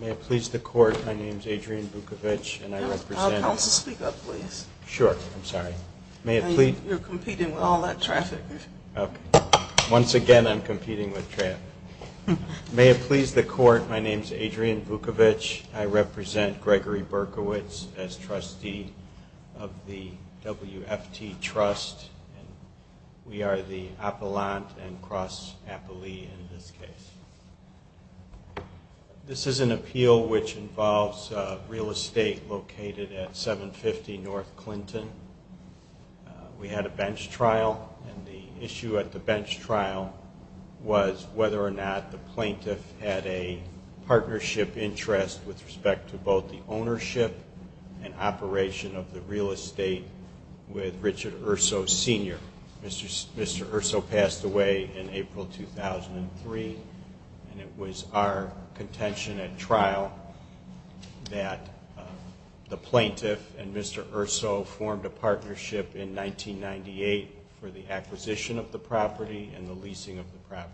May it please the Court, my name is Adrian Bukovic and I represent Gregory Berkowitz as trustee of the WFT Trust and we are the Appellant and Cross Appellee in this case. This is an appeal which involves real estate located at 750 North Clinton. We had a bench trial and the issue at the bench trial was whether or not the plaintiff had a partnership interest with respect to both the ownership and operation of the real estate with Richard Urso Sr. Mr. Urso passed away in April 2003 and it was our contention at trial that the plaintiff and Mr. Urso formed a partnership in 1998 for the acquisition of the property and the leasing of the property.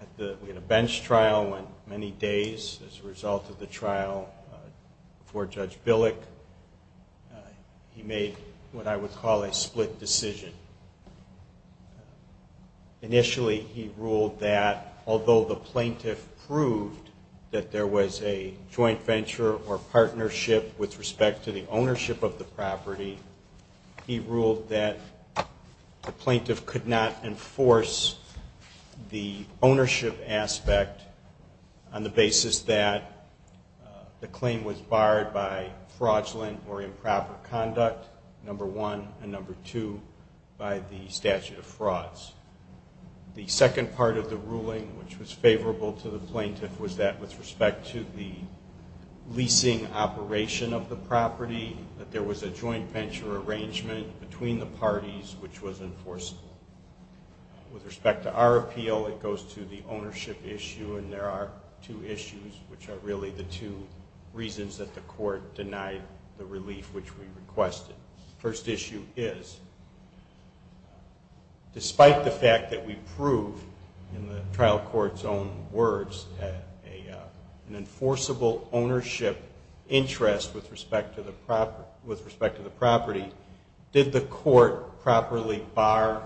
At the bench trial many days as a result of the trial before Judge Billick he made what I would call a split decision. Initially he ruled that although the plaintiff proved that there was a joint venture or partnership with respect to the could not enforce the ownership aspect on the basis that the claim was barred by fraudulent or improper conduct, number one, and number two by the statute of frauds. The second part of the ruling which was favorable to the plaintiff was that with respect to the leasing operation of the property that there was a joint venture arrangement between the parties which was enforceable. With respect to our appeal it goes to the ownership issue and there are two issues which are really the two reasons that the court denied the relief which we requested. The first issue is despite the fact that we proved in the trial court's own with respect to the property, did the court properly bar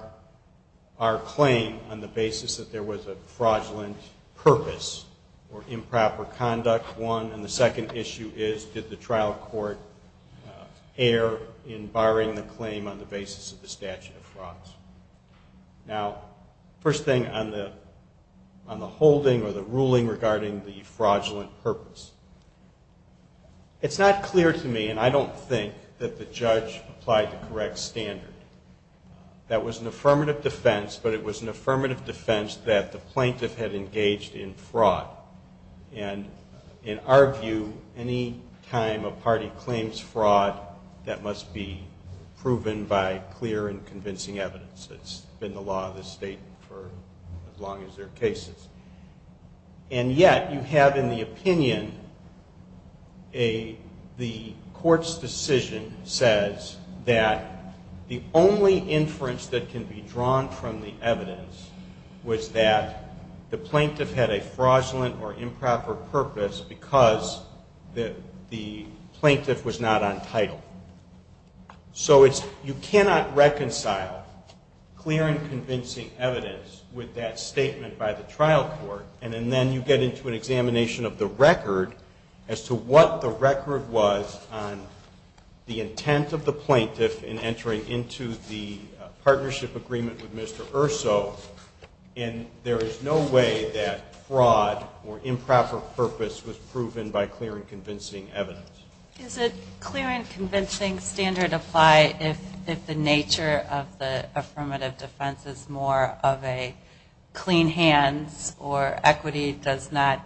our claim on the basis that there was a fraudulent purpose or improper conduct, one, and the second issue is did the trial court err in barring the claim on the basis of the statute of frauds. Now, first thing on the holding or the ruling regarding the fraudulent purpose, it's not clear to me and I don't think that the judge applied the correct standard. That was an affirmative defense but it was an affirmative defense that the plaintiff had engaged in fraud and in our view any time a party claims fraud that must be proven by clear and convincing evidence. It's been the law of the state for as long as there are cases. And yet you have in the opinion the court's decision says that the only inference that can be drawn from the evidence was that the plaintiff had a fraudulent or improper purpose because the convincing evidence with that statement by the trial court and then you get into an examination of the record as to what the record was on the intent of the plaintiff in entering into the partnership agreement with Mr. Urso and there is no way that fraud or improper purpose was proven by clear and convincing evidence. Is it clear and convincing standard apply if the nature of the affirmative defense is more of a clean hands or equity does not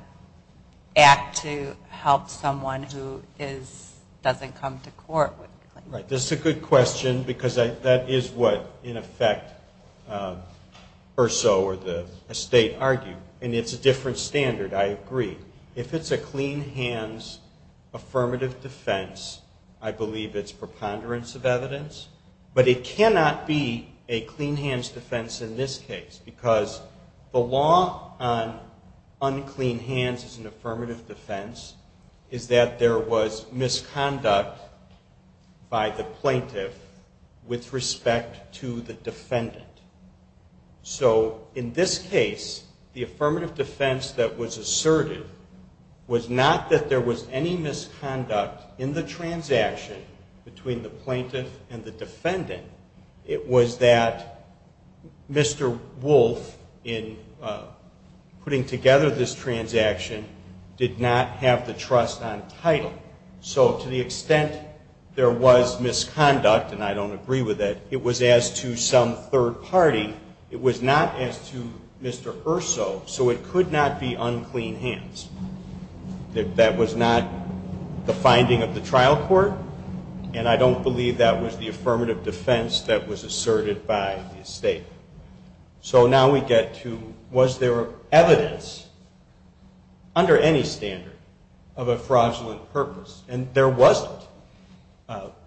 act to help someone who is doesn't come to court? Right. This is a good question because that is what in effect Urso or the state argue and it's a different standard I agree. If it's a clean hands affirmative defense I believe it's preponderance of evidence but it cannot be a clean hands defense in this case because the law on unclean hands is an affirmative defense is that there was misconduct by the plaintiff and the defendant. It was that Mr. Wolfe in putting together this transaction did not have the trust on title so to the extent there was misconduct and I don't agree with it, it was as to some third party. It was not as to Mr. Urso so it could not have been the plaintiff and the defendant. It could not be unclean hands. That was not the finding of the trial court and I don't believe that was the affirmative defense that was asserted by the state. So now we get to was there evidence under any standard of a fraudulent purpose and there wasn't.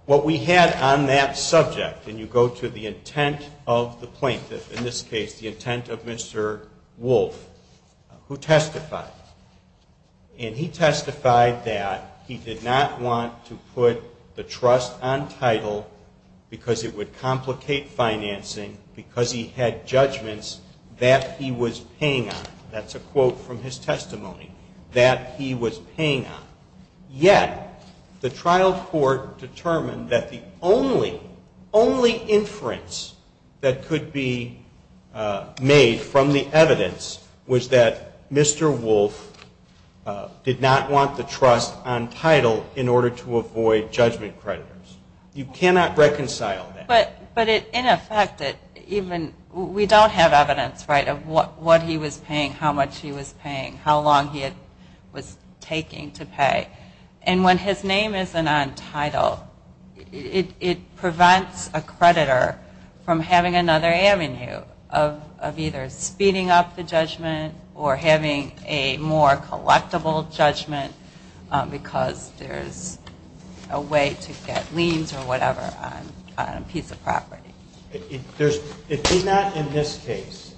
What we had on that subject and you go to the intent of the plaintiff in this case the intent of Mr. Wolfe who testified and he testified that he did not want to put the trust on title because it would complicate financing because he had judgments that he was paying on. That's a quote from his testimony that he was paying on. Yet the trial court determined that the only inference that could be made from the evidence was that Mr. Wolfe did not want the trust on title in order to avoid judgment creditors. You cannot reconcile that. But in effect, we don't have evidence of what he was paying, how much he was paying, how long he was taking to pay. And when his name isn't on title, it prevents a creditor from having another avenue of either speeding up the judgment or having a more collectible judgment because there's a way to get liens or whatever on a piece of land that's not on title. It did not in this case.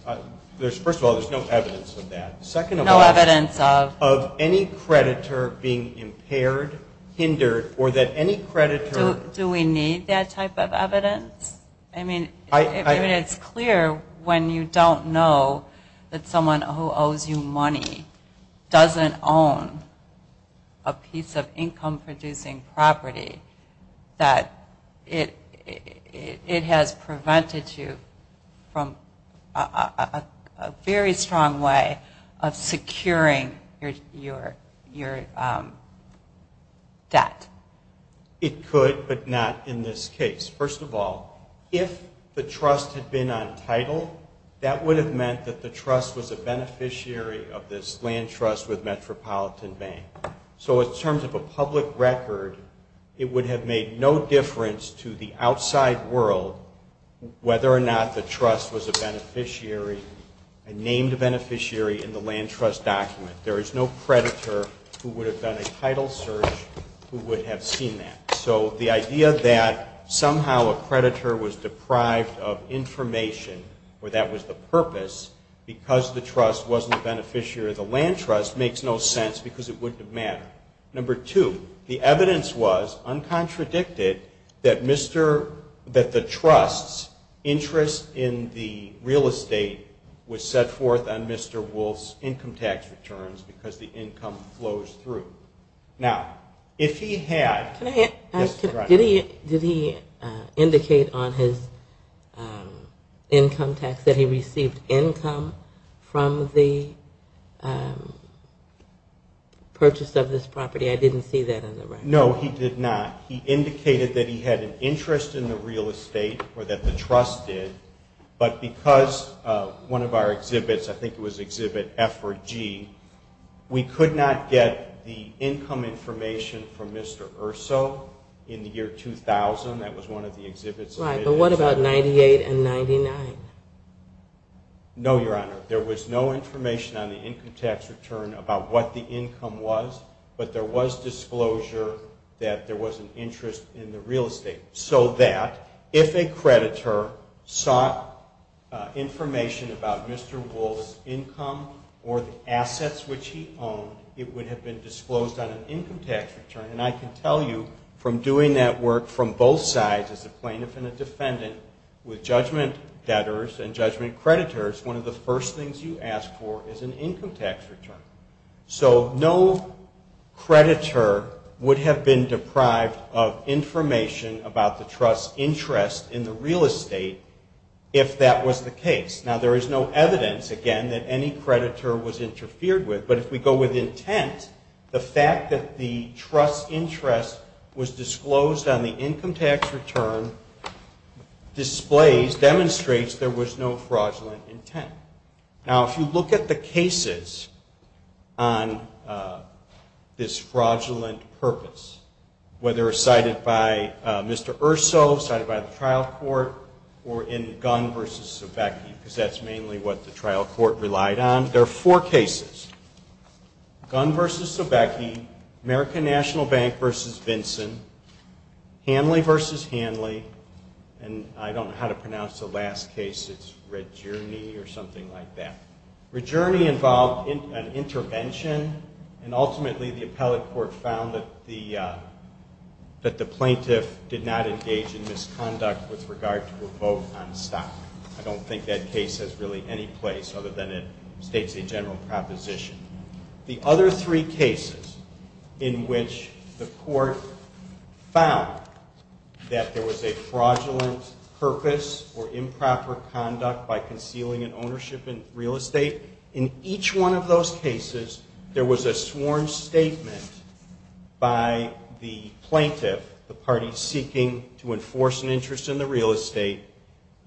First of all, there's no evidence of that. Second of all, of any creditor being impaired, hindered, or that any creditor. Do we need that type of evidence? I mean, it's clear when you don't know that someone who owes you money doesn't own a piece of income producing property that it has prevented you from a very strong way of securing your debt. It could, but not in this case. First of all, if the trust had been on title, that would have meant that the trust was a beneficiary of this land trust with Metropolitan Bank. So in terms of a public record, it would have made no difference to the outside world whether or not the trust was a beneficiary, a named beneficiary in the land trust document. There is no creditor who would have done a title search who would have seen that. So the idea that somehow a creditor was deprived of information or that was the purpose because the trust wasn't a beneficiary of the land trust makes no sense because it wouldn't have mattered. Number two, the evidence was, uncontradicted, that the trust's interest in the real estate was set forth on Mr. Wolfe's income tax returns because the income flows through. Now, if he had... Did he indicate on his income tax that he received income from the purchase of this property? I didn't see that in the record. No, he did not. He indicated that he had an interest in the real estate or that the trust did, but because one of our exhibits, I think it was exhibit F or G, we could not get the income information from Mr. Erso in the year 2000. That was one of the exhibits. Right, but what about 98 and 99? No, Your Honor. There was no information on the income tax return about what the income was, but there was disclosure that there was an interest in the real estate so that if a creditor sought information about Mr. Wolfe's income or the assets which he owned, it would have been disclosed on an income tax return. And I can tell you from doing that work from both sides as a plaintiff and a defendant with judgment debtors and judgment creditors, one of the first things you ask for is an income tax return. So no creditor would have been deprived of information about the trust's interest in the real estate if that was the case. Now, there is no evidence, again, that any creditor was interfered with, but if we go with intent, the fact that the trust's interest was disclosed on the income tax return displays, demonstrates there was no fraudulent intent. Now, if you look at the cases on this fraudulent purpose, whether cited by Mr. Erso, cited by the trial court, or in Gunn v. Sobecki, because that's mainly what the trial court relied on, there are four cases. Gunn v. Sobecki, American National Bank v. Vinson, Hanley v. Hanley, and I don't know how to pronounce the last case. It's Regerny or something like that. Regerny involved an intervention and ultimately the appellate court found that the plaintiff did not engage in misconduct with regard to a vote on stock. I don't think that case has really any place other than it states a general proposition. The other three cases in which the court found that there was a fraudulent purpose or improper conduct by concealing an ownership in real estate, in each one of those cases there was a sworn statement by the plaintiff, the party seeking to enforce an interest in the real estate,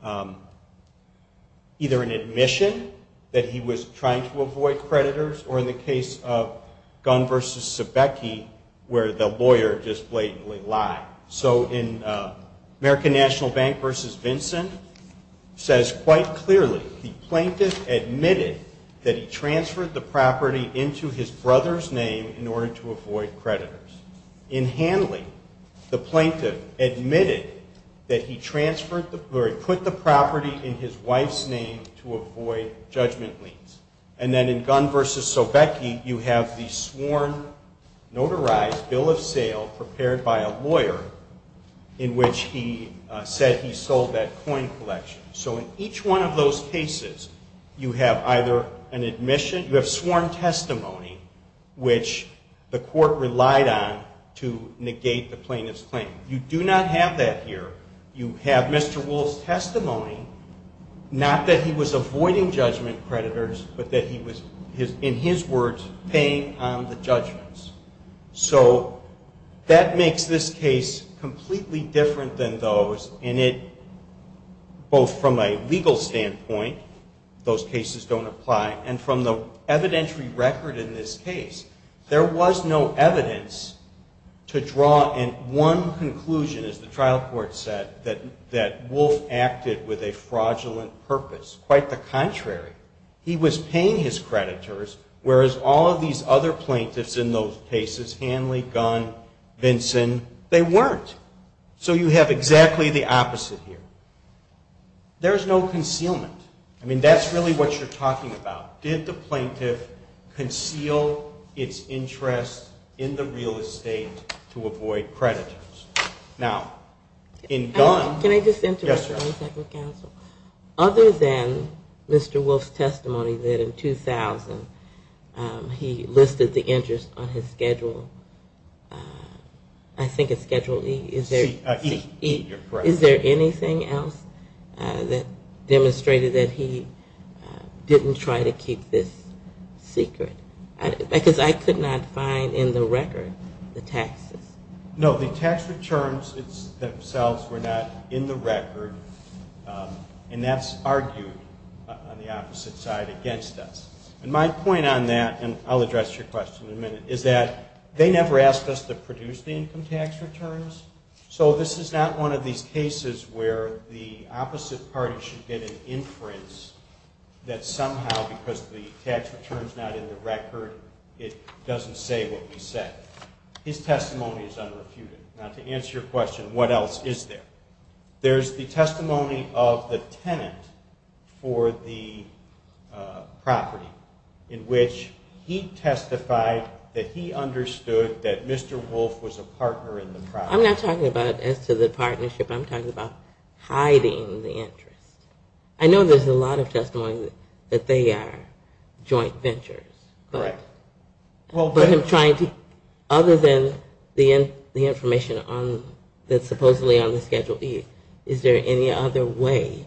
either an admission that he was trying to avoid creditors, or in the case of Gunn v. Sobecki, where the lawyer just blatantly lied. So in American National Bank v. Vinson, it says quite clearly the plaintiff admitted that he transferred the property into his brother's name in order to avoid creditors. In Hanley, the plaintiff admitted that he put the property in his wife's name to avoid judgment liens. And then in Gunn v. Sobecki, you have the sworn, notarized bill of sale prepared by a lawyer in which he said he sold that coin collection. So in each one of those cases, you have either an admission, you have sworn testimony, which the court relied on to negate the plaintiff's claim. You do not have that here. You have Mr. Woolf's testimony, not that he was avoiding judgment creditors, but that he was, in his words, paying on the judgments. So that makes this case completely different than those in it, both from a legal standpoint, those cases don't apply, and from the evidentiary record in this case. There was no evidence to draw in one conclusion, as the trial court said, that Woolf acted with a fraudulent purpose. Quite the contrary. He was paying his creditors, whereas all of these other plaintiffs in those cases, Hanley, Gunn, Vinson, they weren't. So you have exactly the opposite here. There's no concealment. I mean, that's really what you're talking about. Did the plaintiff conceal its interest in the real estate to avoid creditors? Other than Mr. Woolf's testimony that in 2000 he listed the interest on his schedule, I think it's schedule E, is there anything else that demonstrated that he didn't try to keep this secret? Because I could not find in the record the taxes. No, the tax returns themselves were not in the record, and that's argued on the opposite side against us. And my point on that, and I'll address your question in a minute, is that they never asked us to produce the income tax returns. So this is not one of these cases where the opposite party should get an inference that somehow because the tax return's not in the record, it doesn't say what we said. His testimony is unrefuted. Now, to answer your question, what else is there? There's the testimony of the tenant for the property, in which he testified that he understood that Mr. Woolf was a partner in the property. I'm not talking about as to the partnership. I'm talking about hiding the interest. I know there's a lot of testimony that they are joint ventures. Correct. But him trying to, other than the information that's supposedly on the schedule E, is there any other way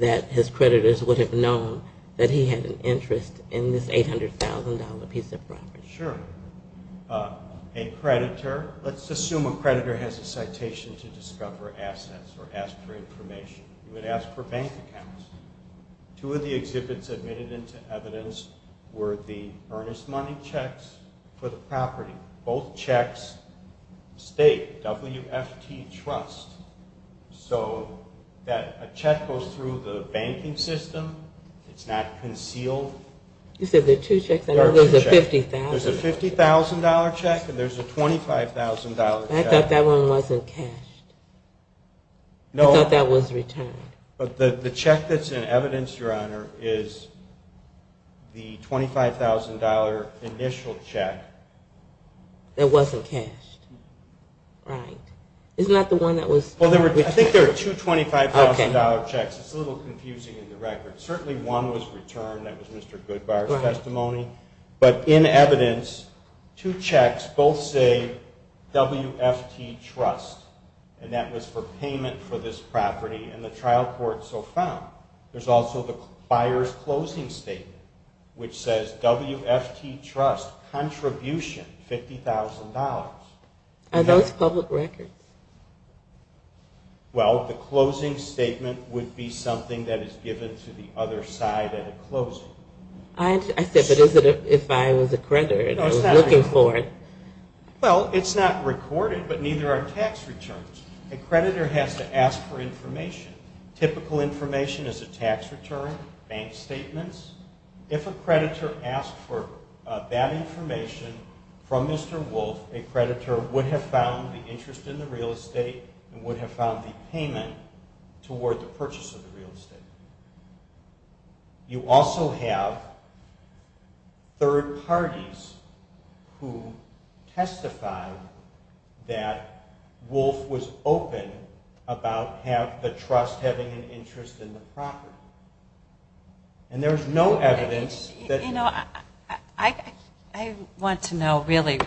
that his creditors would have known that he had an interest in this $800,000 piece of property? Sure. A creditor, let's assume a creditor has a citation to discover assets or ask for information. You would ask for bank accounts. Two of the exhibits admitted into evidence were the earnest money checks for the property. Both checks state WFT Trust. So a check goes through the banking system. It's not concealed. You said there are two checks. There's a $50,000 check and there's a $25,000 check. I thought that one wasn't cashed. I thought that was returned. But the check that's in evidence, Your Honor, is the $25,000 initial check. That wasn't cashed. Right. Isn't that the one that was? I think there are two $25,000 checks. It's a little confusing in the record. Certainly one was returned. That was Mr. Goodbar's testimony. But in evidence, two checks both say WFT Trust, and that was for payment for this property, and the trial court so found. There's also the buyer's closing statement, which says WFT Trust, contribution, $50,000. Are those public records? Well, the closing statement would be something that is given to the other side at a closing. I said, but is it if I was a creditor and I was looking for it? Well, it's not recorded, but neither are tax returns. A creditor has to ask for information. The creditor would have found the interest in the real estate and would have found the payment toward the purchase of the real estate. You also have third parties who testified that Wolf was open about the trust having an interest in the property. And there's no evidence. I want to know, really,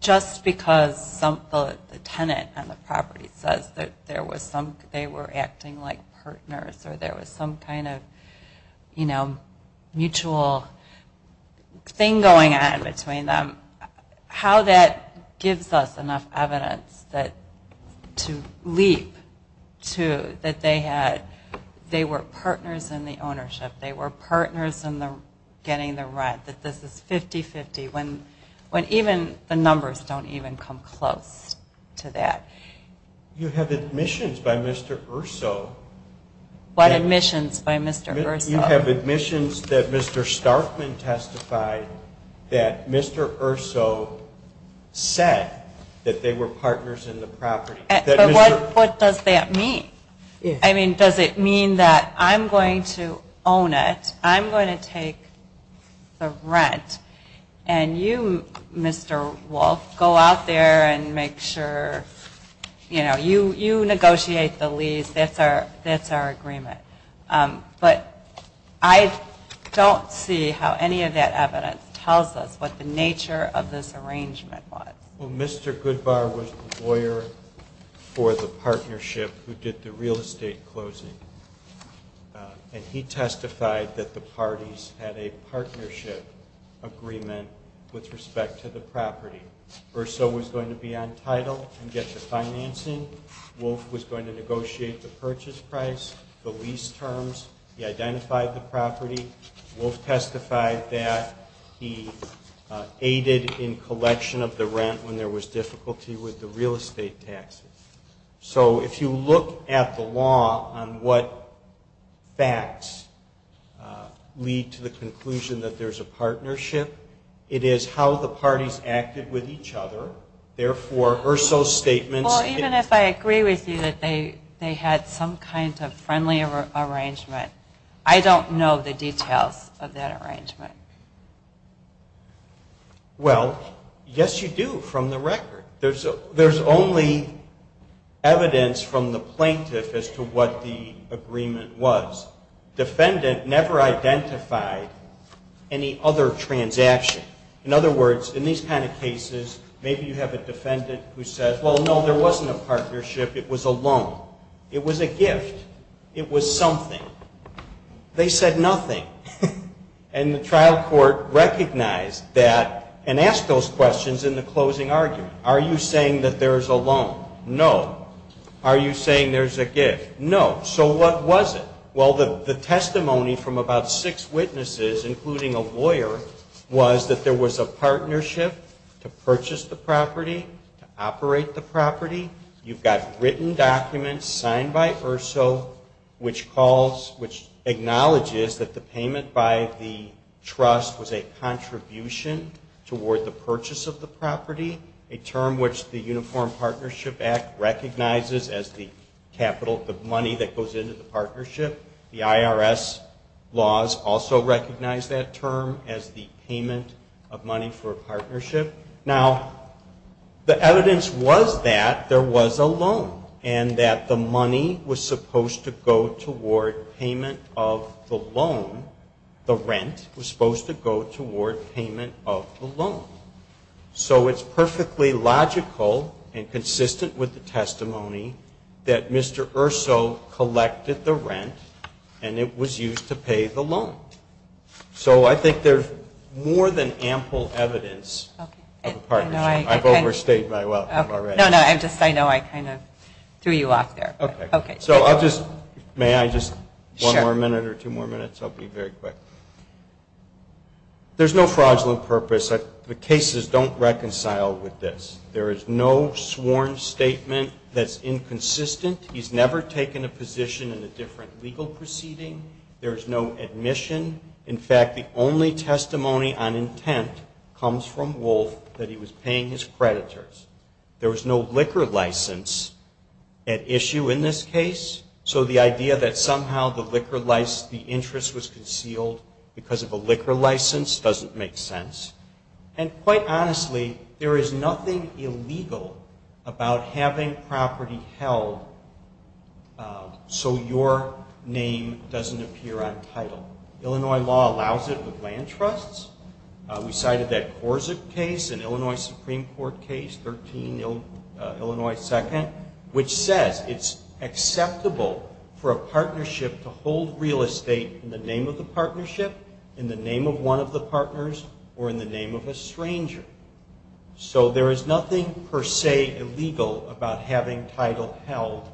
just because the tenant on the property says that they were acting like partners, or there was some kind of mutual thing going on between them, how that gives us enough evidence to leap to that they were partners in the ownership, they were partners in getting the rent, that this is 50-50, when even the numbers don't even come close to that. You have admissions by Mr. Urso. What admissions by Mr. Urso? You have admissions that Mr. Starfman testified that Mr. Urso said that they were partners in the property. But what does that mean? I mean, does it mean that I'm going to own it, I'm going to take the rent, and you, Mr. Wolf, go out there and make sure, you know, you negotiate the lease, that's our agreement. But I don't see how any of that evidence tells us what the nature of this arrangement was. Well, Mr. Goodbar was the lawyer for the partnership who did the real estate closing, and he testified that the parties had a partnership agreement with respect to the property. Urso was going to be on title and get the financing. Wolf was going to negotiate the purchase price, the lease terms. He identified the property. Wolf testified that he aided in collection of the rent when there was difficulty with the real estate taxes. So if you look at the law on what facts lead to the conclusion that there's a partnership, it is how the parties acted with each other. Therefore, Urso's statements... Well, even if I agree with you that they had some kind of friendly arrangement, I don't know the details of that arrangement. Well, yes, you do, from the record. There's only evidence from the plaintiff as to what the agreement was. Defendant never identified any other transaction. In other words, in these kind of cases, maybe you have a defendant who says, well, no, there wasn't a partnership, it was a loan. It was a gift. It was something. They said nothing. And the trial court recognized that and asked those questions in the closing argument. Are you saying that there's a loan? No. Are you saying there's a gift? No. So what was it? Well, the testimony from about six witnesses, including a lawyer, was that there was a partnership to purchase the property, to operate the property. You've got written documents signed by Urso, which acknowledges that the payment by the trust was a contribution toward the purchase of the property, a term which the Uniform Partnership Act recognizes as the capital, the money that goes into the partnership. The IRS laws also recognize that term as the payment of money for a partnership. Now, the evidence was that there was a loan and that the money was supposed to go toward payment of the loan. So it's perfectly logical and consistent with the testimony that Mr. Urso collected the rent and it was used to pay the loan. So I think there's more than ample evidence of a partnership. I've overstayed my welcome already. No, no, I just know I kind of threw you off there. Okay. So I'll just, may I just, one more minute or two more minutes? I'll be very quick. There's no fraudulent purpose. The cases don't reconcile with this. There is no sworn statement that's inconsistent. He's never taken a position in a different legal proceeding. There is no admission. In fact, the only testimony on intent comes from Wolf that he was paying his creditors. There was no liquor license at issue in this case. So the idea that somehow the interest was concealed because of a liquor license doesn't make sense. And quite honestly, there is nothing illegal about having property held so your name doesn't appear on title. Illinois law allows it with land trusts. We cited that Corsic case, an Illinois Supreme Court case, 13 Illinois 2nd, which says it's acceptable for a partnership to hold real estate in the name of the partnership, in the name of one of the partners, or in the name of a stranger. So there is nothing per se illegal about having title held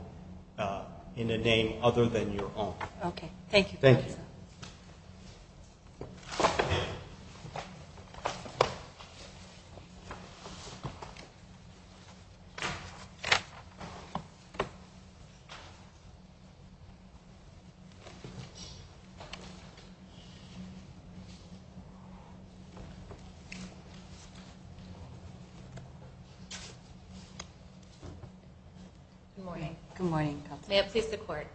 in a name other than your own. Thank you. Thank you. Good morning. Good morning. May it please the Court.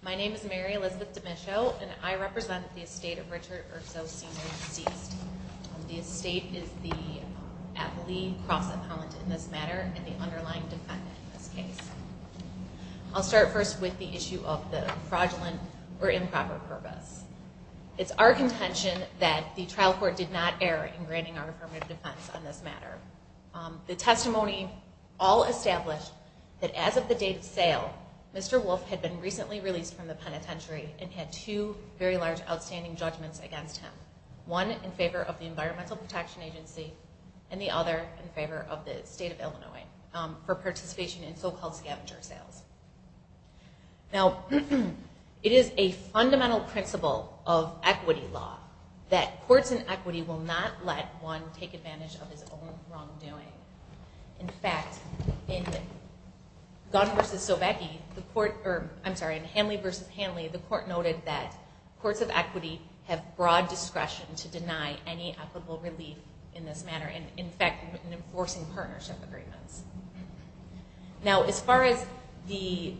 My name is Mary Elizabeth D'Amico, and I represent the estate of Richard Urso, Sr., deceased. The estate is the appellee cross-appellant in this matter, and the underlying defendant in this case. I'll start first with the issue of the fraudulent or improper purpose. It's our contention that the trial court did not err in granting our affirmative defense on this matter. The testimony all established that as of the date of sale, Mr. Wolf had been recently released from the penitentiary and had two very large outstanding judgments against him. One in favor of the Environmental Protection Agency and the other in favor of the state of Illinois for participation in so-called scavenger sales. Now, it is a fundamental principle of equity law that courts in equity will not let one take advantage of his own wrongdoing. In fact, in Gunn v. Sobecki, I'm sorry, in Hanley v. Hanley, the court noted that courts of equity have broad discretion to deny any equitable relief in this matter, in fact, in enforcing partnership agreements. Now, as far as the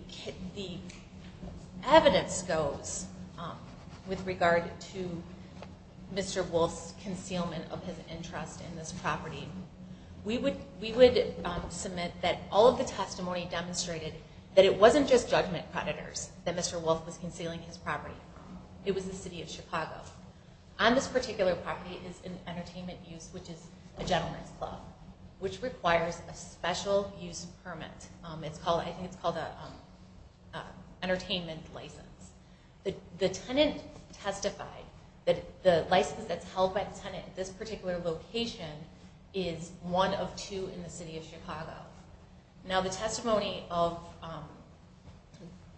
evidence goes with regard to Mr. Wolf's concealment of his interest in this property, we would submit that all of the testimony demonstrated that it wasn't just judgment predators that Mr. Wolf was concealing his property from. It was the city of Chicago. On this particular property is an entertainment use, which is a gentleman's club, which requires a special use permit. I think it's called an entertainment license. The tenant testified that the license that's held by the tenant at this particular location is one of two in the city of Chicago. Now, the testimony of,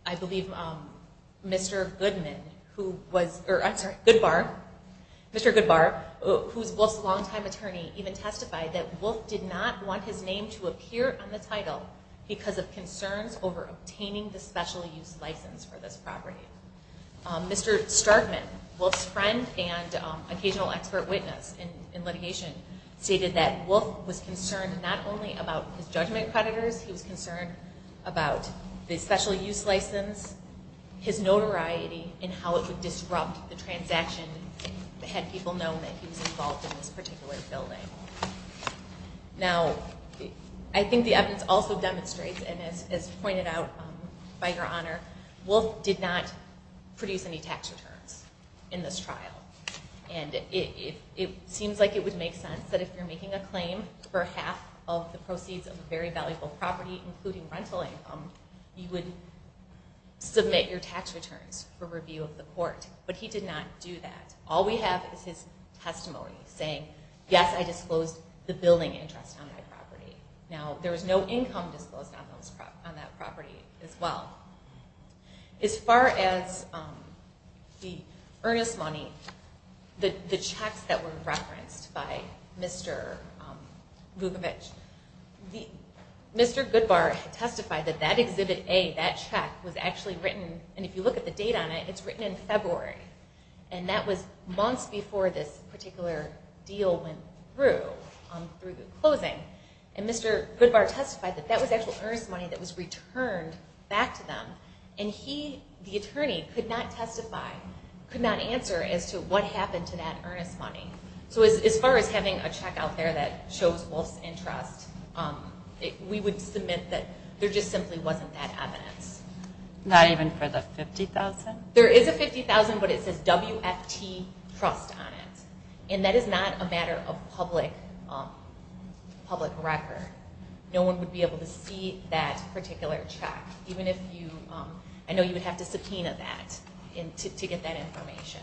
I believe, Mr. Goodbar, who is Wolf's longtime attorney, even testified that Wolf did not want his name to appear on the title because of concerns over obtaining the special use license for this property. Mr. Starkman, Wolf's friend and occasional expert witness in litigation, stated that Wolf was concerned not only about his judgment predators, he was concerned about the special use license, his notoriety, and how it would disrupt the transaction had people known that he was involved in this particular building. Now, I think the evidence also demonstrates, and as pointed out by Your Honor, Wolf did not produce any tax returns in this trial. It seems like it would make sense that if you're making a claim for half of the proceeds of a very valuable property, including rental income, you would submit your tax returns for review of the court. But he did not do that. All we have is his testimony saying, yes, I disclosed the building interest on my property. Now, there was no income disclosed on that property as well. As far as the earnest money, the checks that were referenced by Mr. Vukovich, Mr. Goodbar testified that that Exhibit A, that check, was actually written, and if you look at the date on it, it's written in February. And that was months before this particular deal went through, through the closing. And Mr. Goodbar testified that that was actual earnest money that was returned back to them. And he, the attorney, could not testify, could not answer as to what happened to that earnest money. So as far as having a check out there that shows Wolf's interest, we would submit that there just simply wasn't that evidence. Not even for the $50,000? There is a $50,000, but it says WFT Trust on it. And that is not a matter of public record. No one would be able to see that particular check, even if you, I know you would have to subpoena that to get that information.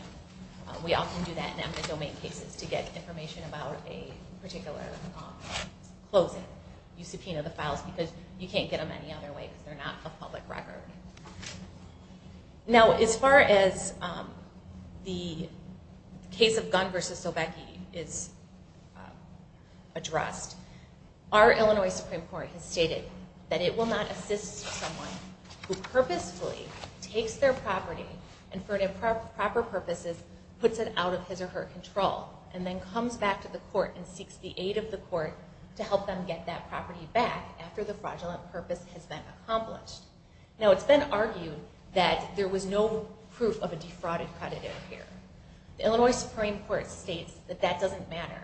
We often do that in empty domain cases to get information about a particular closing. You subpoena the files because you can't get them any other way because they're not a public record. Now, as far as the case of Gunn v. Sobecki is addressed, our Illinois Supreme Court has stated that it will not assist someone who purposefully takes their property and for improper purposes puts it out of his or her control and then comes back to the court and seeks the aid of the court to help them get that property back after the fraudulent purpose has been accomplished. Now, it's been argued that there was no proof of a defrauded credit in here. The Illinois Supreme Court states that that doesn't matter.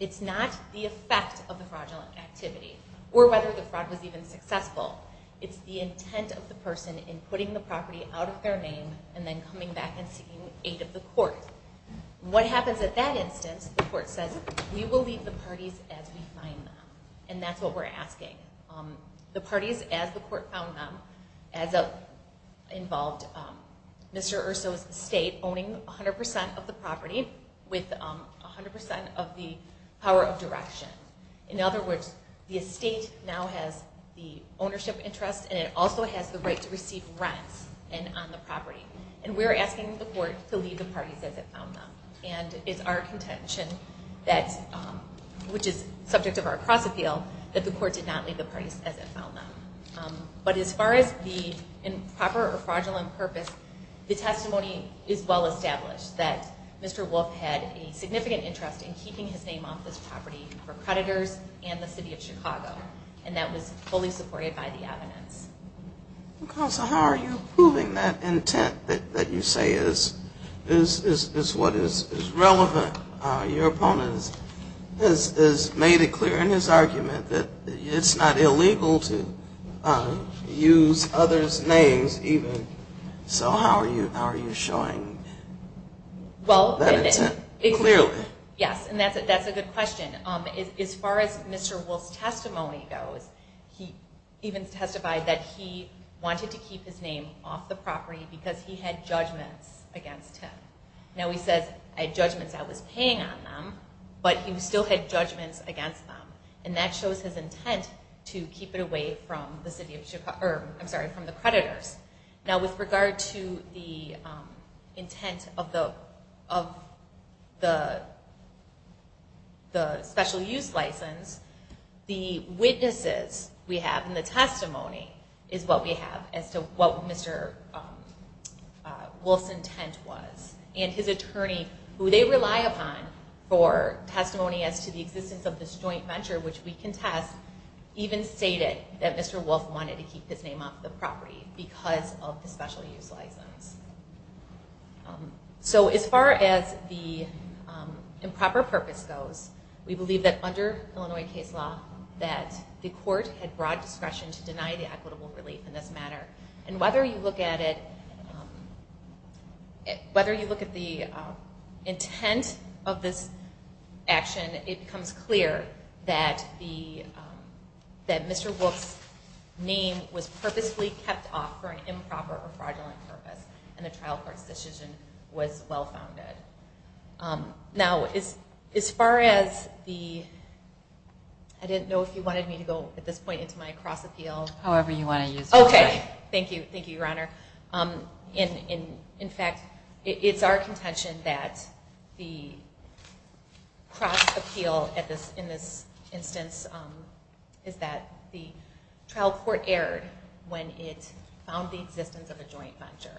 It's not the effect of the fraudulent activity or whether the fraud was even successful. It's the intent of the person in putting the property out of their name and then coming back and seeking aid of the court. What happens at that instance, the court says, we will leave the parties as we find them. And that's what we're asking. The parties as the court found them involved Mr. Urso's estate owning 100% of the property with 100% of the power of direction. In other words, the estate now has the ownership interest and it also has the right to receive rents on the property. And we're asking the court to leave the parties as it found them. And it's our contention, which is subject of our cross appeal, that the court did not leave the parties as it found them. But as far as the improper or fraudulent purpose, the testimony is well established that Mr. Wolf had a significant interest in keeping his name off this property for creditors and the city of Chicago. And that was fully supported by the evidence. Counsel, how are you proving that intent that you say is what is relevant? Your opponent has made it clear in his argument that it's not illegal to use others' names even. So how are you showing that intent clearly? Yes, and that's a good question. As far as Mr. Wolf's testimony goes, he even testified that he wanted to keep his name off the property because he had judgments against him. Now he says, I had judgments I was paying on them, but he still had judgments against them. And that shows his intent to keep it away from the city of Chicago, I'm sorry, from the creditors. Now with regard to the intent of the special use license, the witnesses we have and the testimony is what we have as to what Mr. Wolf's intent was. And his attorney, who they rely upon for testimony as to the existence of this joint venture, which we contest, even stated that Mr. Wolf wanted to keep his name off the property because of the special use license. So as far as the improper purpose goes, we believe that under Illinois case law that the court had broad discretion to deny the equitable relief in this matter. And whether you look at it, whether you look at the intent of this action, it becomes clear that Mr. Wolf's name was purposely kept off for an improper or fraudulent purpose, and the trial court's decision was well-founded. Now as far as the, I didn't know if you wanted me to go at this point into my cross appeal. However you want to use it. Okay, thank you, thank you, Your Honor. In fact, it's our contention that the cross appeal in this instance is that the trial court erred when it found the existence of a joint venture.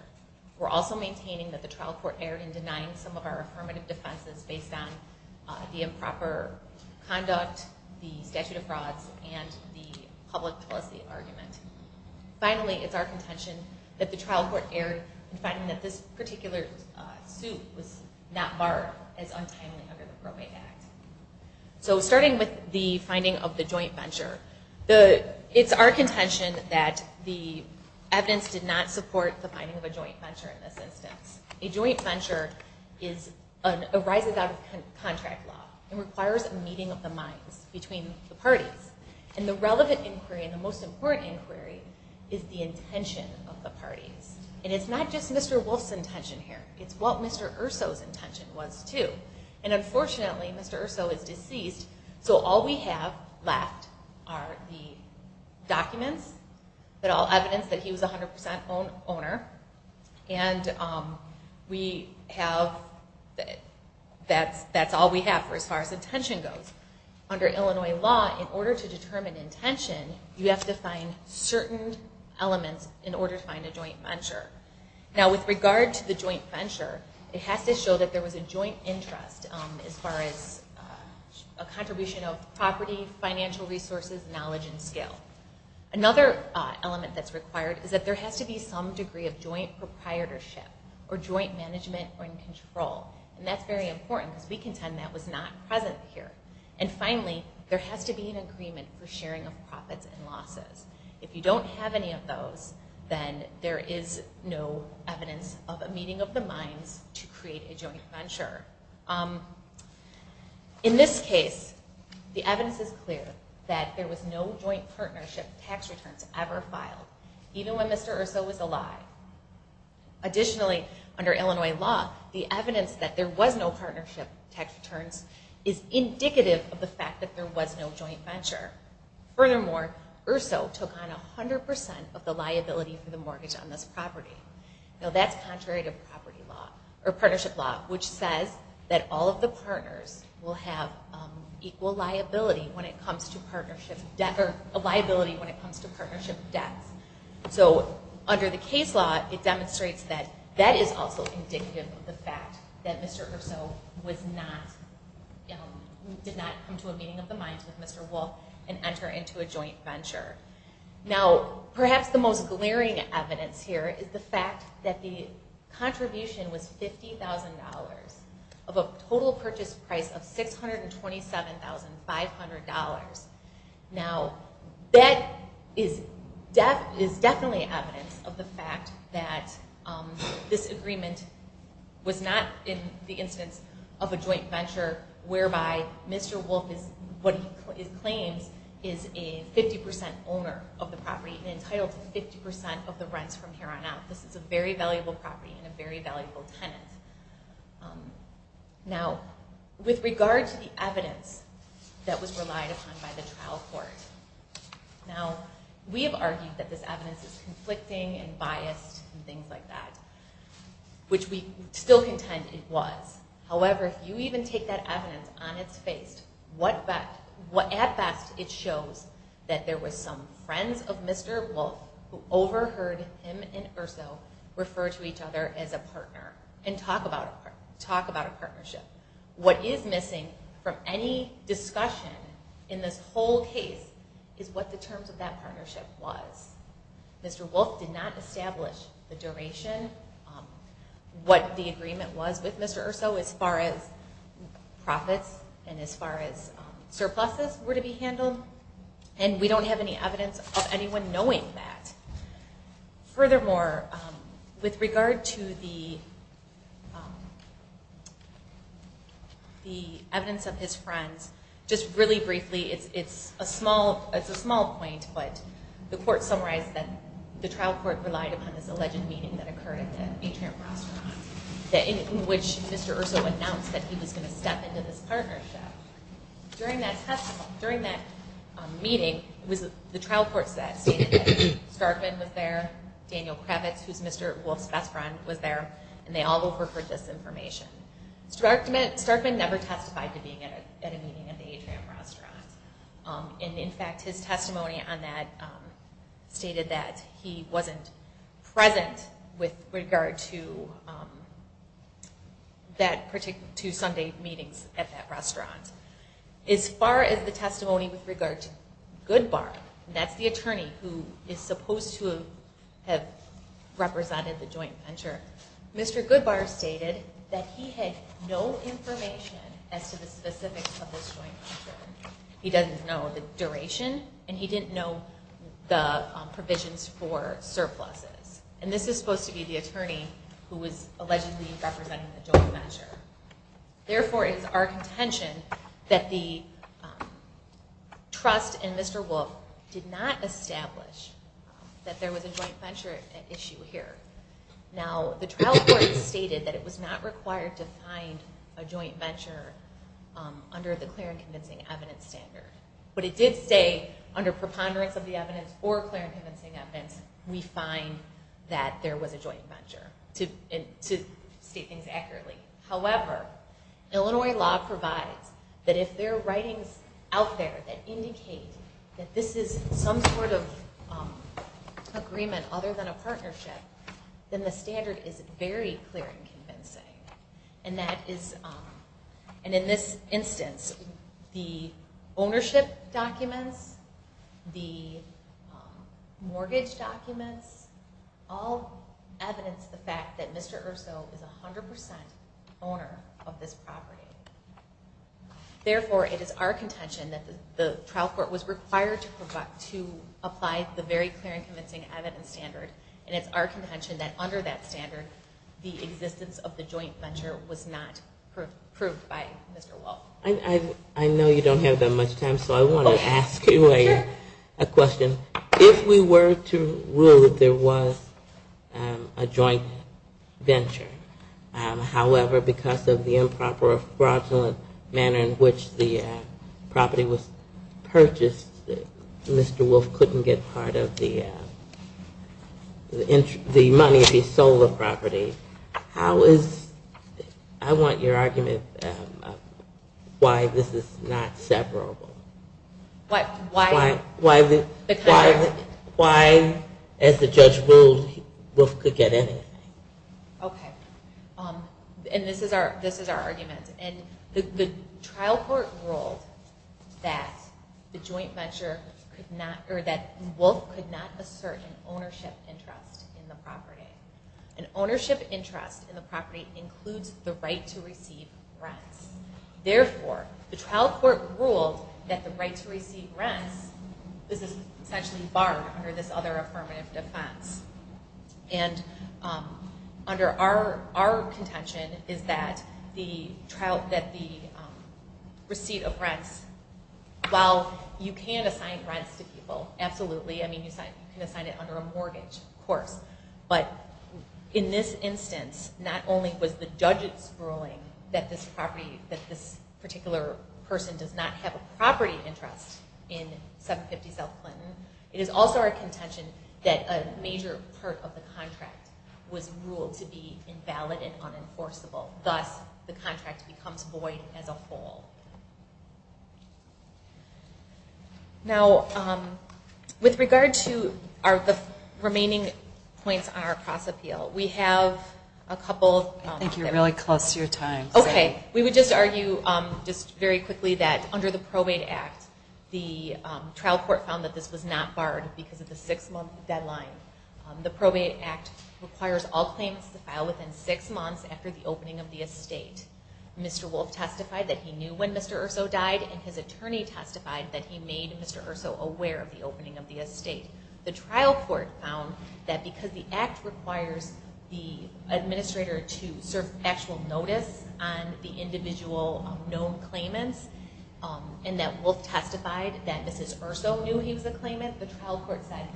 We're also maintaining that the trial court erred in denying some of our affirmative defenses based on the improper conduct, the statute of frauds, and the public policy argument. Finally, it's our contention that the trial court erred in finding that this particular suit was not barred as untimely under the Broadway Act. So starting with the finding of the joint venture, it's our contention that the evidence did not support the finding of a joint venture in this instance. A joint venture arises out of contract law and requires a meeting of the minds between the parties. And the relevant inquiry and the most important inquiry is the intention of the parties. And it's not just Mr. Wolf's intention here. It's what Mr. Erso's intention was too. And unfortunately, Mr. Erso is deceased, so all we have left are the documents, all evidence that he was 100% owner, and that's all we have as far as intention goes. Under Illinois law, in order to determine intention, you have to find certain elements in order to find a joint venture. Now with regard to the joint venture, it has to show that there was a joint interest as far as a contribution of property, financial resources, knowledge, and skill. Another element that's required is that there has to be some degree of joint proprietorship or joint management and control. And that's very important because we contend that was not present here. And finally, there has to be an agreement for sharing of profits and losses. If you don't have any of those, then there is no evidence of a meeting of the minds to create a joint venture. In this case, the evidence is clear that there was no joint partnership tax returns ever filed. Even when Mr. Urso was alive. Additionally, under Illinois law, the evidence that there was no partnership tax returns is indicative of the fact that there was no joint venture. Furthermore, Urso took on 100% of the liability for the mortgage on this property. Now that's contrary to partnership law, which says that all of the partners will have equal liability when it comes to partnership debts. So under the case law, it demonstrates that that is also indicative of the fact that Mr. Urso did not come to a meeting of the minds with Mr. Wolfe and enter into a joint venture. Now, perhaps the most glaring evidence here is the fact that the contribution was $50,000 of a total purchase price of $627,500. Now, that is definitely evidence of the fact that this agreement was not in the instance of a joint venture whereby Mr. Wolfe, what he claims, is a 50% owner of the property and entitled to 50% of the rents from here on out. This is a very valuable property and a very valuable tenant. Now, with regard to the evidence that was relied upon by the trial court, now, we have argued that this evidence is conflicting and biased and things like that, which we still contend it was. However, if you even take that evidence on its face, at best it shows that there were some friends of Mr. Wolfe who overheard him and Urso refer to each other as a partner and talk about a partnership. What is missing from any discussion in this whole case is what the terms of that partnership was. Mr. Wolfe did not establish the duration, what the agreement was with Mr. Urso as far as profits and as far as surpluses were to be handled, and we don't have any evidence of anyone knowing that. Furthermore, with regard to the evidence of his friends, just really briefly, it's a small point, but the court summarized that the trial court relied upon this alleged meeting that occurred at the Atrium Restaurant in which Mr. Urso announced that he was going to step into this partnership. During that meeting, the trial court stated that Starkman was there, Daniel Kravitz, who is Mr. Wolfe's best friend, was there, and they all overheard this information. Starkman never testified to being at a meeting at the Atrium Restaurant. In fact, his testimony on that stated that he wasn't present with regard to Sunday meetings at that restaurant. As far as the testimony with regard to Goodbar, that's the attorney who is supposed to have represented the joint venture, Mr. Goodbar stated that he had no information as to the specifics of this joint venture. He doesn't know the duration, and he didn't know the provisions for surpluses. And this is supposed to be the attorney who was allegedly representing the joint venture. Therefore, it is our contention that the trust in Mr. Wolfe did not establish that there was a joint venture issue here. Now, the trial court stated that it was not required to find a joint venture under the clear and convincing evidence standard, but it did say under preponderance of the evidence or clear and convincing evidence, we find that there was a joint venture, to state things accurately. However, Illinois law provides that if there are writings out there that indicate that this is some sort of agreement other than a partnership, then the standard is very clear and convincing. And in this instance, the ownership documents, the mortgage documents all evidence the fact that Mr. Erso is 100% owner of this property. Therefore, it is our contention that the trial court was required to apply the very clear and convincing evidence standard, and it's our contention that under that standard, the existence of the joint venture was not proved by Mr. Wolfe. I know you don't have that much time, so I want to ask you a question. If we were to rule that there was a joint venture, however, because of the improper fraudulent manner in which the property was purchased, Mr. Wolfe couldn't get part of the money to be sold the property. I want your argument on why this is not separable. Why, as the judge ruled, Wolfe could get anything. Okay. And this is our argument. The trial court ruled that Wolfe could not assert an ownership interest in the property. An ownership interest in the property includes the right to receive rents. Therefore, the trial court ruled that the right to receive rents is essentially barred under this other affirmative defense. And under our contention is that the receipt of rents, while you can assign rents to people, absolutely, I mean, you can assign it under a mortgage, of course, but in this instance, not only was the judge's ruling that this particular person does not have a property interest in 750 South Clinton, it is also our contention that a major part of the contract was ruled to be invalid and unenforceable. Thus, the contract becomes void as a whole. Now, with regard to the remaining points on our cross-appeal, we have a couple... I think you're really close to your time. Okay. We would just argue just very quickly that under the Probate Act, the trial court found that this was not barred because of the six-month deadline. The Probate Act requires all claims to file within six months after the opening of the estate. Mr. Wolfe testified that he knew when Mr. Erso died, and his attorney testified that he made Mr. Erso aware of the opening of the estate. The trial court found that because the Act requires the administrator to serve actual notice on the individual known claimants, and that Wolfe testified that Mrs. Erso knew he was a claimant, the trial court found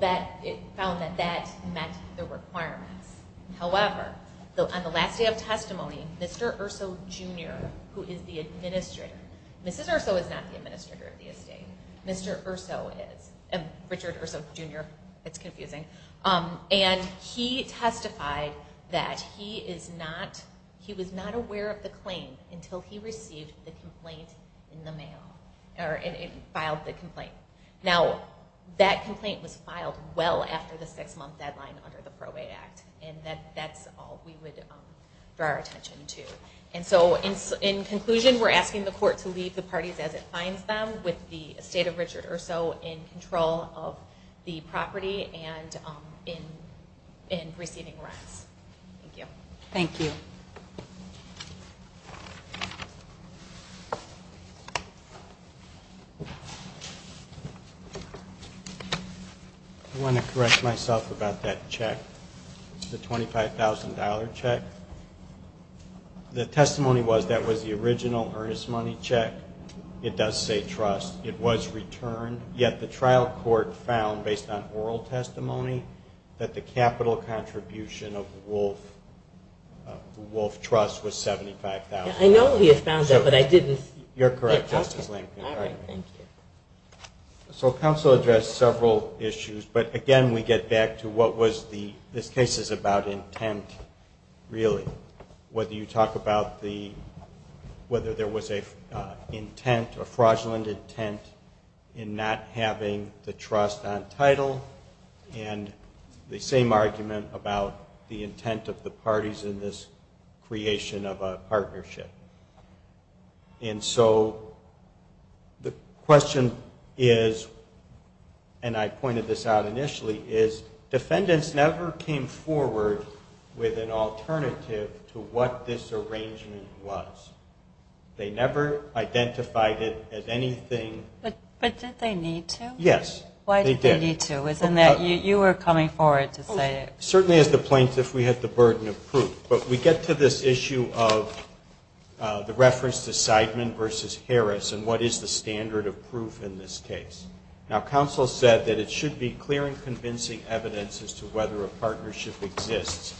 that that met the requirements. However, on the last day of testimony, Mr. Erso Jr., who is the administrator... Mrs. Erso is not the administrator of the estate. Mr. Erso is. Richard Erso Jr. It's confusing. And he testified that he was not aware of the claim until he received the complaint in the mail, or filed the complaint. Now, that complaint was filed well after the six-month deadline under the Probate Act, and that's all we would draw our attention to. And so in conclusion, we're asking the court to leave the parties as it finds them with the estate of Richard Erso in control of the property and in receiving rents. Thank you. Thank you. Thank you. I want to correct myself about that check, the $25,000 check. The testimony was that was the original earnest money check. It does say trust. It was returned, yet the trial court found, based on oral testimony, that the capital contribution of the Wolfe Trust was $75,000. I know he has found that, but I didn't... You're correct, Justice Lankford. All right, thank you. So counsel addressed several issues, but, again, we get back to what was the... this case is about intent, really, whether you talk about the... whether there was an intent, a fraudulent intent, in not having the trust on title, and the same argument about the intent of the parties in this creation of a partnership. And so the question is, and I pointed this out initially, is defendants never came forward with an alternative to what this arrangement was. They never identified it as anything... But did they need to? Yes, they did. Why did they need to? You were coming forward to say it. Certainly, as the plaintiff, we had the burden of proof. But we get to this issue of the reference to Seidman v. Harris and what is the standard of proof in this case. Now, counsel said that it should be clear and convincing evidence as to whether a partnership exists,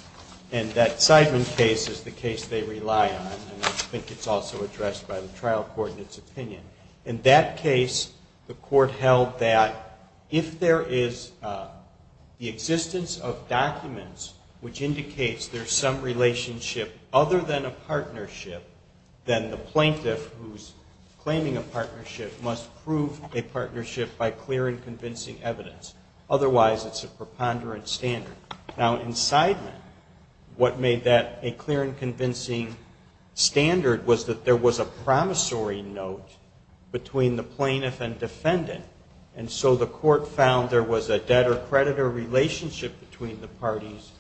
and that Seidman case is the case they rely on. And I think it's also addressed by the trial court in its opinion. In that case, the court held that if there is the existence of documents which indicates there's some relationship other than a partnership, then the plaintiff who's claiming a partnership must prove a partnership by clear and convincing evidence. Otherwise, it's a preponderant standard. Now, in Seidman, what made that a clear and convincing standard was that there was a promissory note between the plaintiff and defendant, and so the court found there was a debtor-creditor relationship between the parties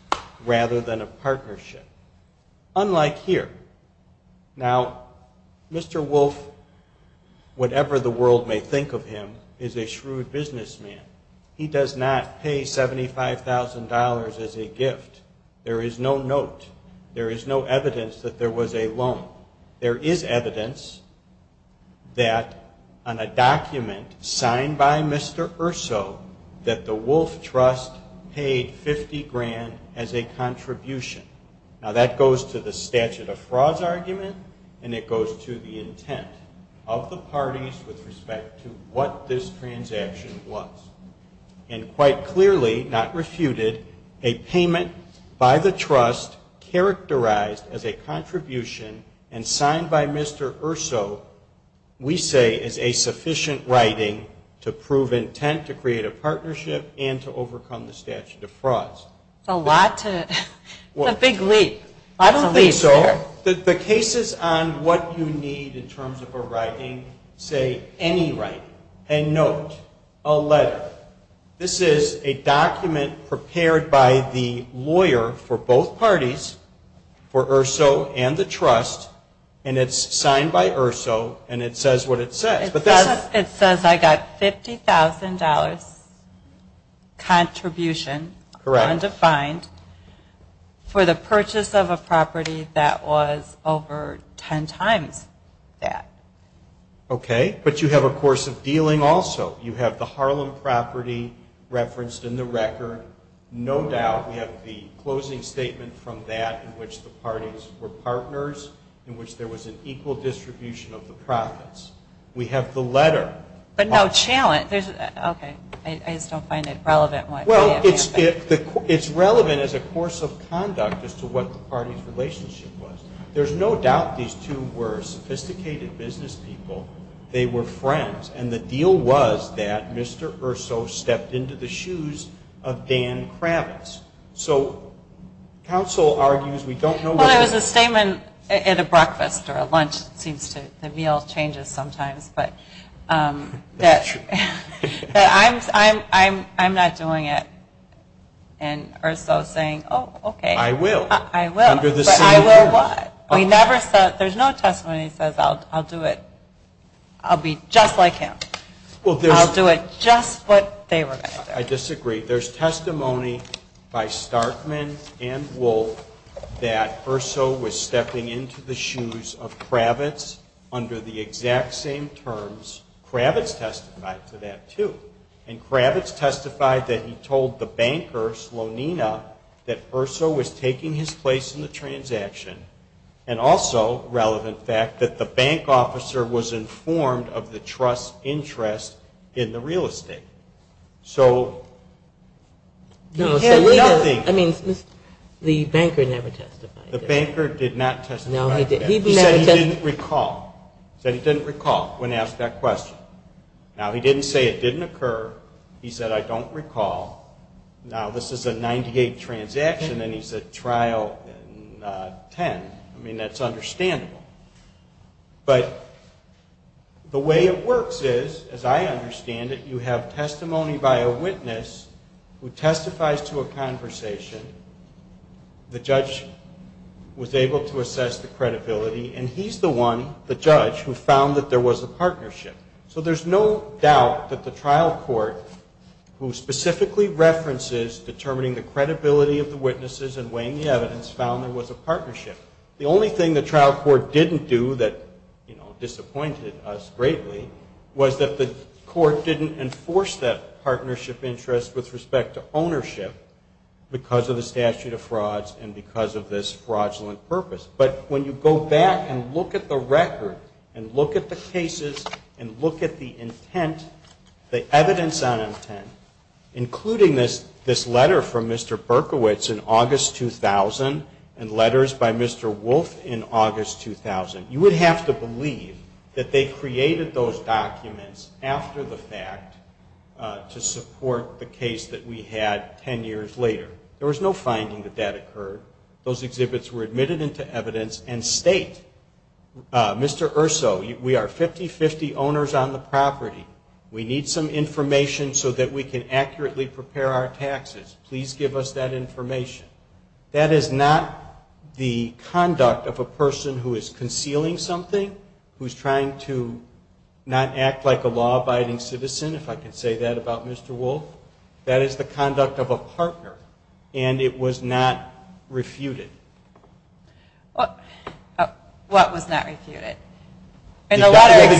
rather than a partnership, unlike here. Now, Mr. Wolf, whatever the world may think of him, is a shrewd businessman. He does not pay $75,000 as a gift. There is no note. There is no evidence that there was a loan. There is evidence that on a document signed by Mr. Erso that the Wolf Trust paid $50,000 as a contribution. And it goes to the intent of the parties with respect to what this transaction was. And quite clearly, not refuted, a payment by the trust characterized as a contribution and signed by Mr. Erso we say is a sufficient writing to prove intent to create a partnership and to overcome the statute of frauds. That's a big leap. I don't think so. The cases on what you need in terms of a writing say any writing, a note, a letter. This is a document prepared by the lawyer for both parties, for Erso and the trust, and it's signed by Erso and it says what it says. It says I got $50,000 contribution, undefined, for the purchase of a property that was over 10 times that. Okay. But you have a course of dealing also. You have the Harlem property referenced in the record. No doubt we have the closing statement from that in which the parties were partners, in which there was an equal distribution of the profits. We have the letter. But no challenge. Okay. I just don't find it relevant. Well, it's relevant as a course of conduct as to what the party's relationship was. There's no doubt these two were sophisticated business people. They were friends. And the deal was that Mr. Erso stepped into the shoes of Dan Kravitz. So counsel argues we don't know. Well, it was a statement at a breakfast or a lunch. It seems the meal changes sometimes. That's true. I'm not doing it. And Erso's saying, oh, okay. I will. I will. But I will what? There's no testimony that says I'll do it. I'll be just like him. I'll do it just what they were going to do. I disagree. There's testimony by Starkman and Wolf that Erso was stepping into the shoes of Kravitz under the exact same terms Kravitz testified to that, too. And Kravitz testified that he told the banker, Slonina, that Erso was taking his place in the transaction and also, relevant fact, that the bank officer was informed of the trust's interest in the real estate. So he had nothing. I mean, the banker never testified. The banker did not testify to that. No, he didn't. He said he didn't recall. He said he didn't recall when asked that question. Now, he didn't say it didn't occur. He said, I don't recall. Now, this is a 98 transaction, and he's at trial in 10. I mean, that's understandable. But the way it works is, as I understand it, you have testimony by a witness who testifies to a conversation. The judge was able to assess the credibility, and he's the one, the judge, who found that there was a partnership. So there's no doubt that the trial court, who specifically references determining the credibility of the witnesses and weighing the evidence, found there was a partnership. The only thing the trial court didn't do that, you know, disappointed us greatly, was that the court didn't enforce that partnership interest with respect to ownership because of the statute of frauds and because of this fraudulent purpose. But when you go back and look at the record and look at the cases and look at the intent, the evidence on intent, including this letter from Mr. Berkowitz in August 2000 and letters by Mr. Wolf in August 2000, you would have to believe that they created those documents after the fact to support the case that we had 10 years later. There was no finding that that occurred. Those exhibits were admitted into evidence and state, Mr. Urso, we are 50-50 owners on the property. We need some information so that we can accurately prepare our taxes. Please give us that information. That is not the conduct of a person who is concealing something, who is trying to not act like a law-abiding citizen, if I can say that about Mr. Wolf. That is the conduct of a partner, and it was not refuted. What was not refuted? The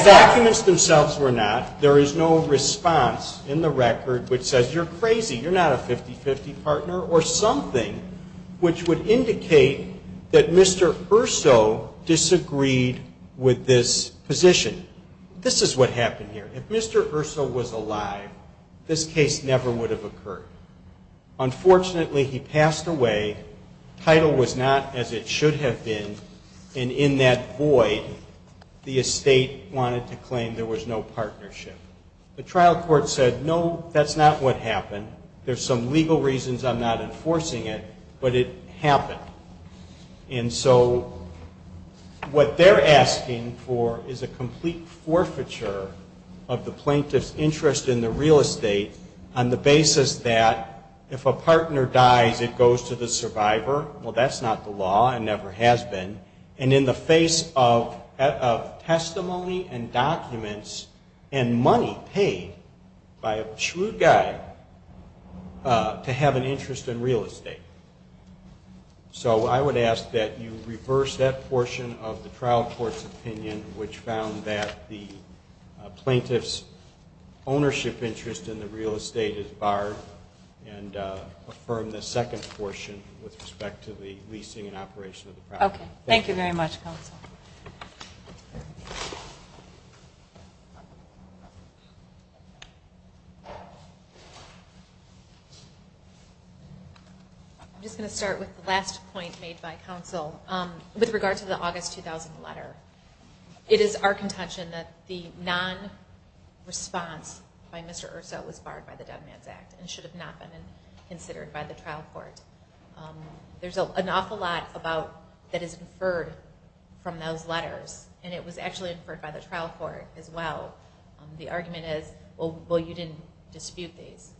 documents themselves were not. There is no response in the record which says you're crazy, you're not a 50-50 partner, or something which would indicate that Mr. Urso disagreed with this position. This is what happened here. If Mr. Urso was alive, this case never would have occurred. Unfortunately, he passed away. Title was not as it should have been, and in that void, the estate wanted to claim there was no partnership. The trial court said, no, that's not what happened. There's some legal reasons I'm not enforcing it, but it happened. And so what they're asking for is a complete forfeiture of the plaintiff's interest in the real estate on the basis that if a partner dies, it goes to the survivor. Well, that's not the law. It never has been. And in the face of testimony and documents and money paid by a shrewd guy to have an interest in real estate. So I would ask that you reverse that portion of the trial court's opinion, which found that the plaintiff's ownership interest in the real estate is barred, and affirm the second portion with respect to the leasing and operation of the property. Okay. Thank you very much, Counsel. I'm just going to start with the last point made by Counsel with regard to the August 2000 letter. It is our contention that the non-response by Mr. Urso was barred by the Dead Man's Act and should have not been considered by the trial court. There's an awful lot that is inferred from those letters, and it was actually inferred by the trial court as well. The argument is, well, you didn't dispute these.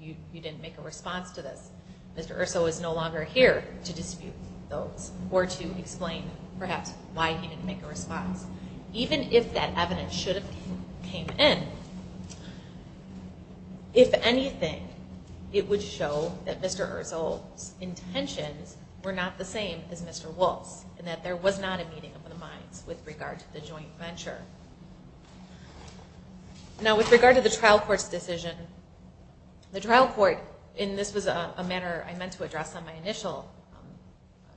You didn't make a response to this. Mr. Urso is no longer here to dispute those or to explain perhaps why he didn't make a response. Even if that evidence should have came in, if anything, it would show that Mr. Urso's intentions were not the same as Mr. Wolf's and that there was not a meeting of the minds with regard to the joint venture. Now, with regard to the trial court's decision, the trial court, and this was a manner I meant to address on my initial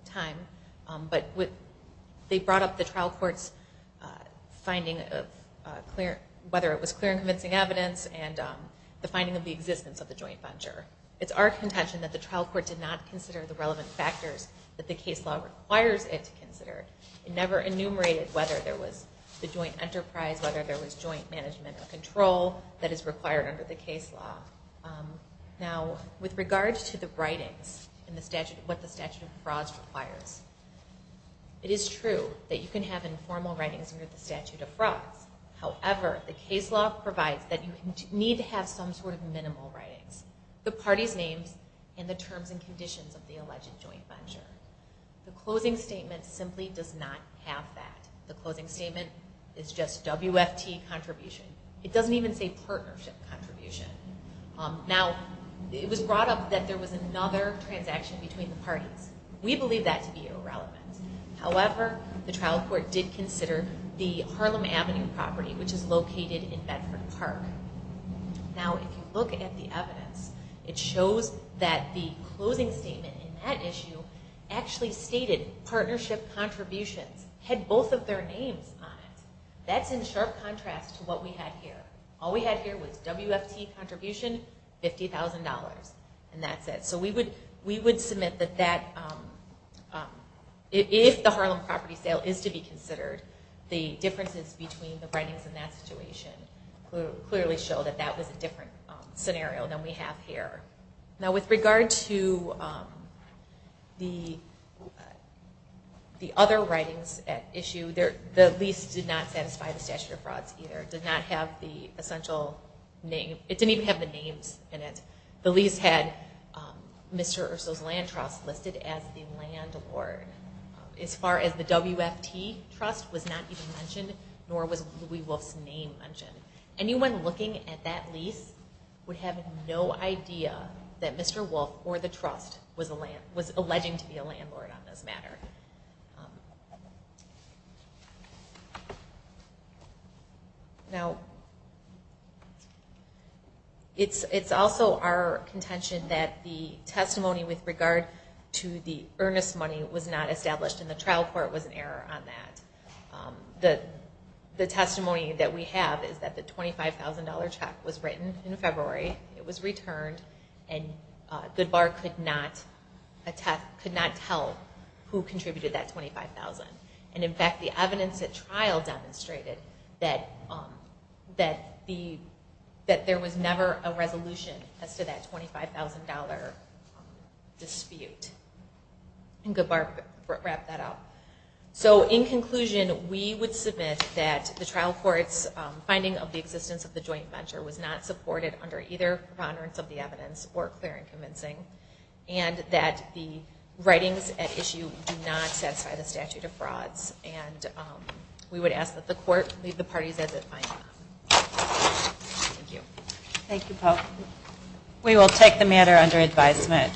time, but they brought up the trial court's finding of whether it was clear and convincing evidence and the finding of the existence of the joint venture. It's our contention that the trial court did not consider the relevant factors that the case law requires it to consider. It never enumerated whether there was the joint enterprise, whether there was joint management or control that is required under the case law. Now, with regard to the writings and what the statute of frauds requires, it is true that you can have informal writings under the statute of frauds. However, the case law provides that you need to have some sort of minimal writings, the party's names and the terms and conditions of the alleged joint venture. The closing statement simply does not have that. The closing statement is just WFT contribution. It doesn't even say partnership contribution. Now, it was brought up that there was another transaction between the parties. We believe that to be irrelevant. However, the trial court did consider the Harlem Avenue property, which is located in Bedford Park. Now, if you look at the evidence, it shows that the closing statement in that issue actually stated partnership contributions had both of their names on it. That's in sharp contrast to what we had here. All we had here was WFT contribution, $50,000, and that's it. So we would submit that if the Harlem property sale is to be considered, the differences between the writings in that situation clearly show that that was a different scenario than we have here. Now, with regard to the other writings at issue, the lease did not satisfy the statute of frauds either. It did not have the essential name. It didn't even have the names in it. The lease had Mr. Urso's Land Trust listed as the landlord. As far as the WFT Trust was not even mentioned, nor was Louie Wolfe's name mentioned. Anyone looking at that lease would have no idea that Mr. Wolfe or the trust was alleging to be a landlord on this matter. Now, it's also our contention that the testimony with regard to the earnest money was not established, and the trial court was in error on that. The testimony that we have is that the $25,000 check was written in February. It was returned, and Goodbar could not tell who contributed that $25,000. In fact, the evidence at trial demonstrated that there was never a resolution as to that $25,000 dispute, and Goodbar wrapped that up. In conclusion, we would submit that the trial court's finding of the existence of the joint venture was not supported under either preponderance of the evidence or clear and convincing, and that the writings at issue do not satisfy the statute of frauds. We would ask that the court leave the parties as it finds them. Thank you. Thank you, Poe. We will take the matter under advisement.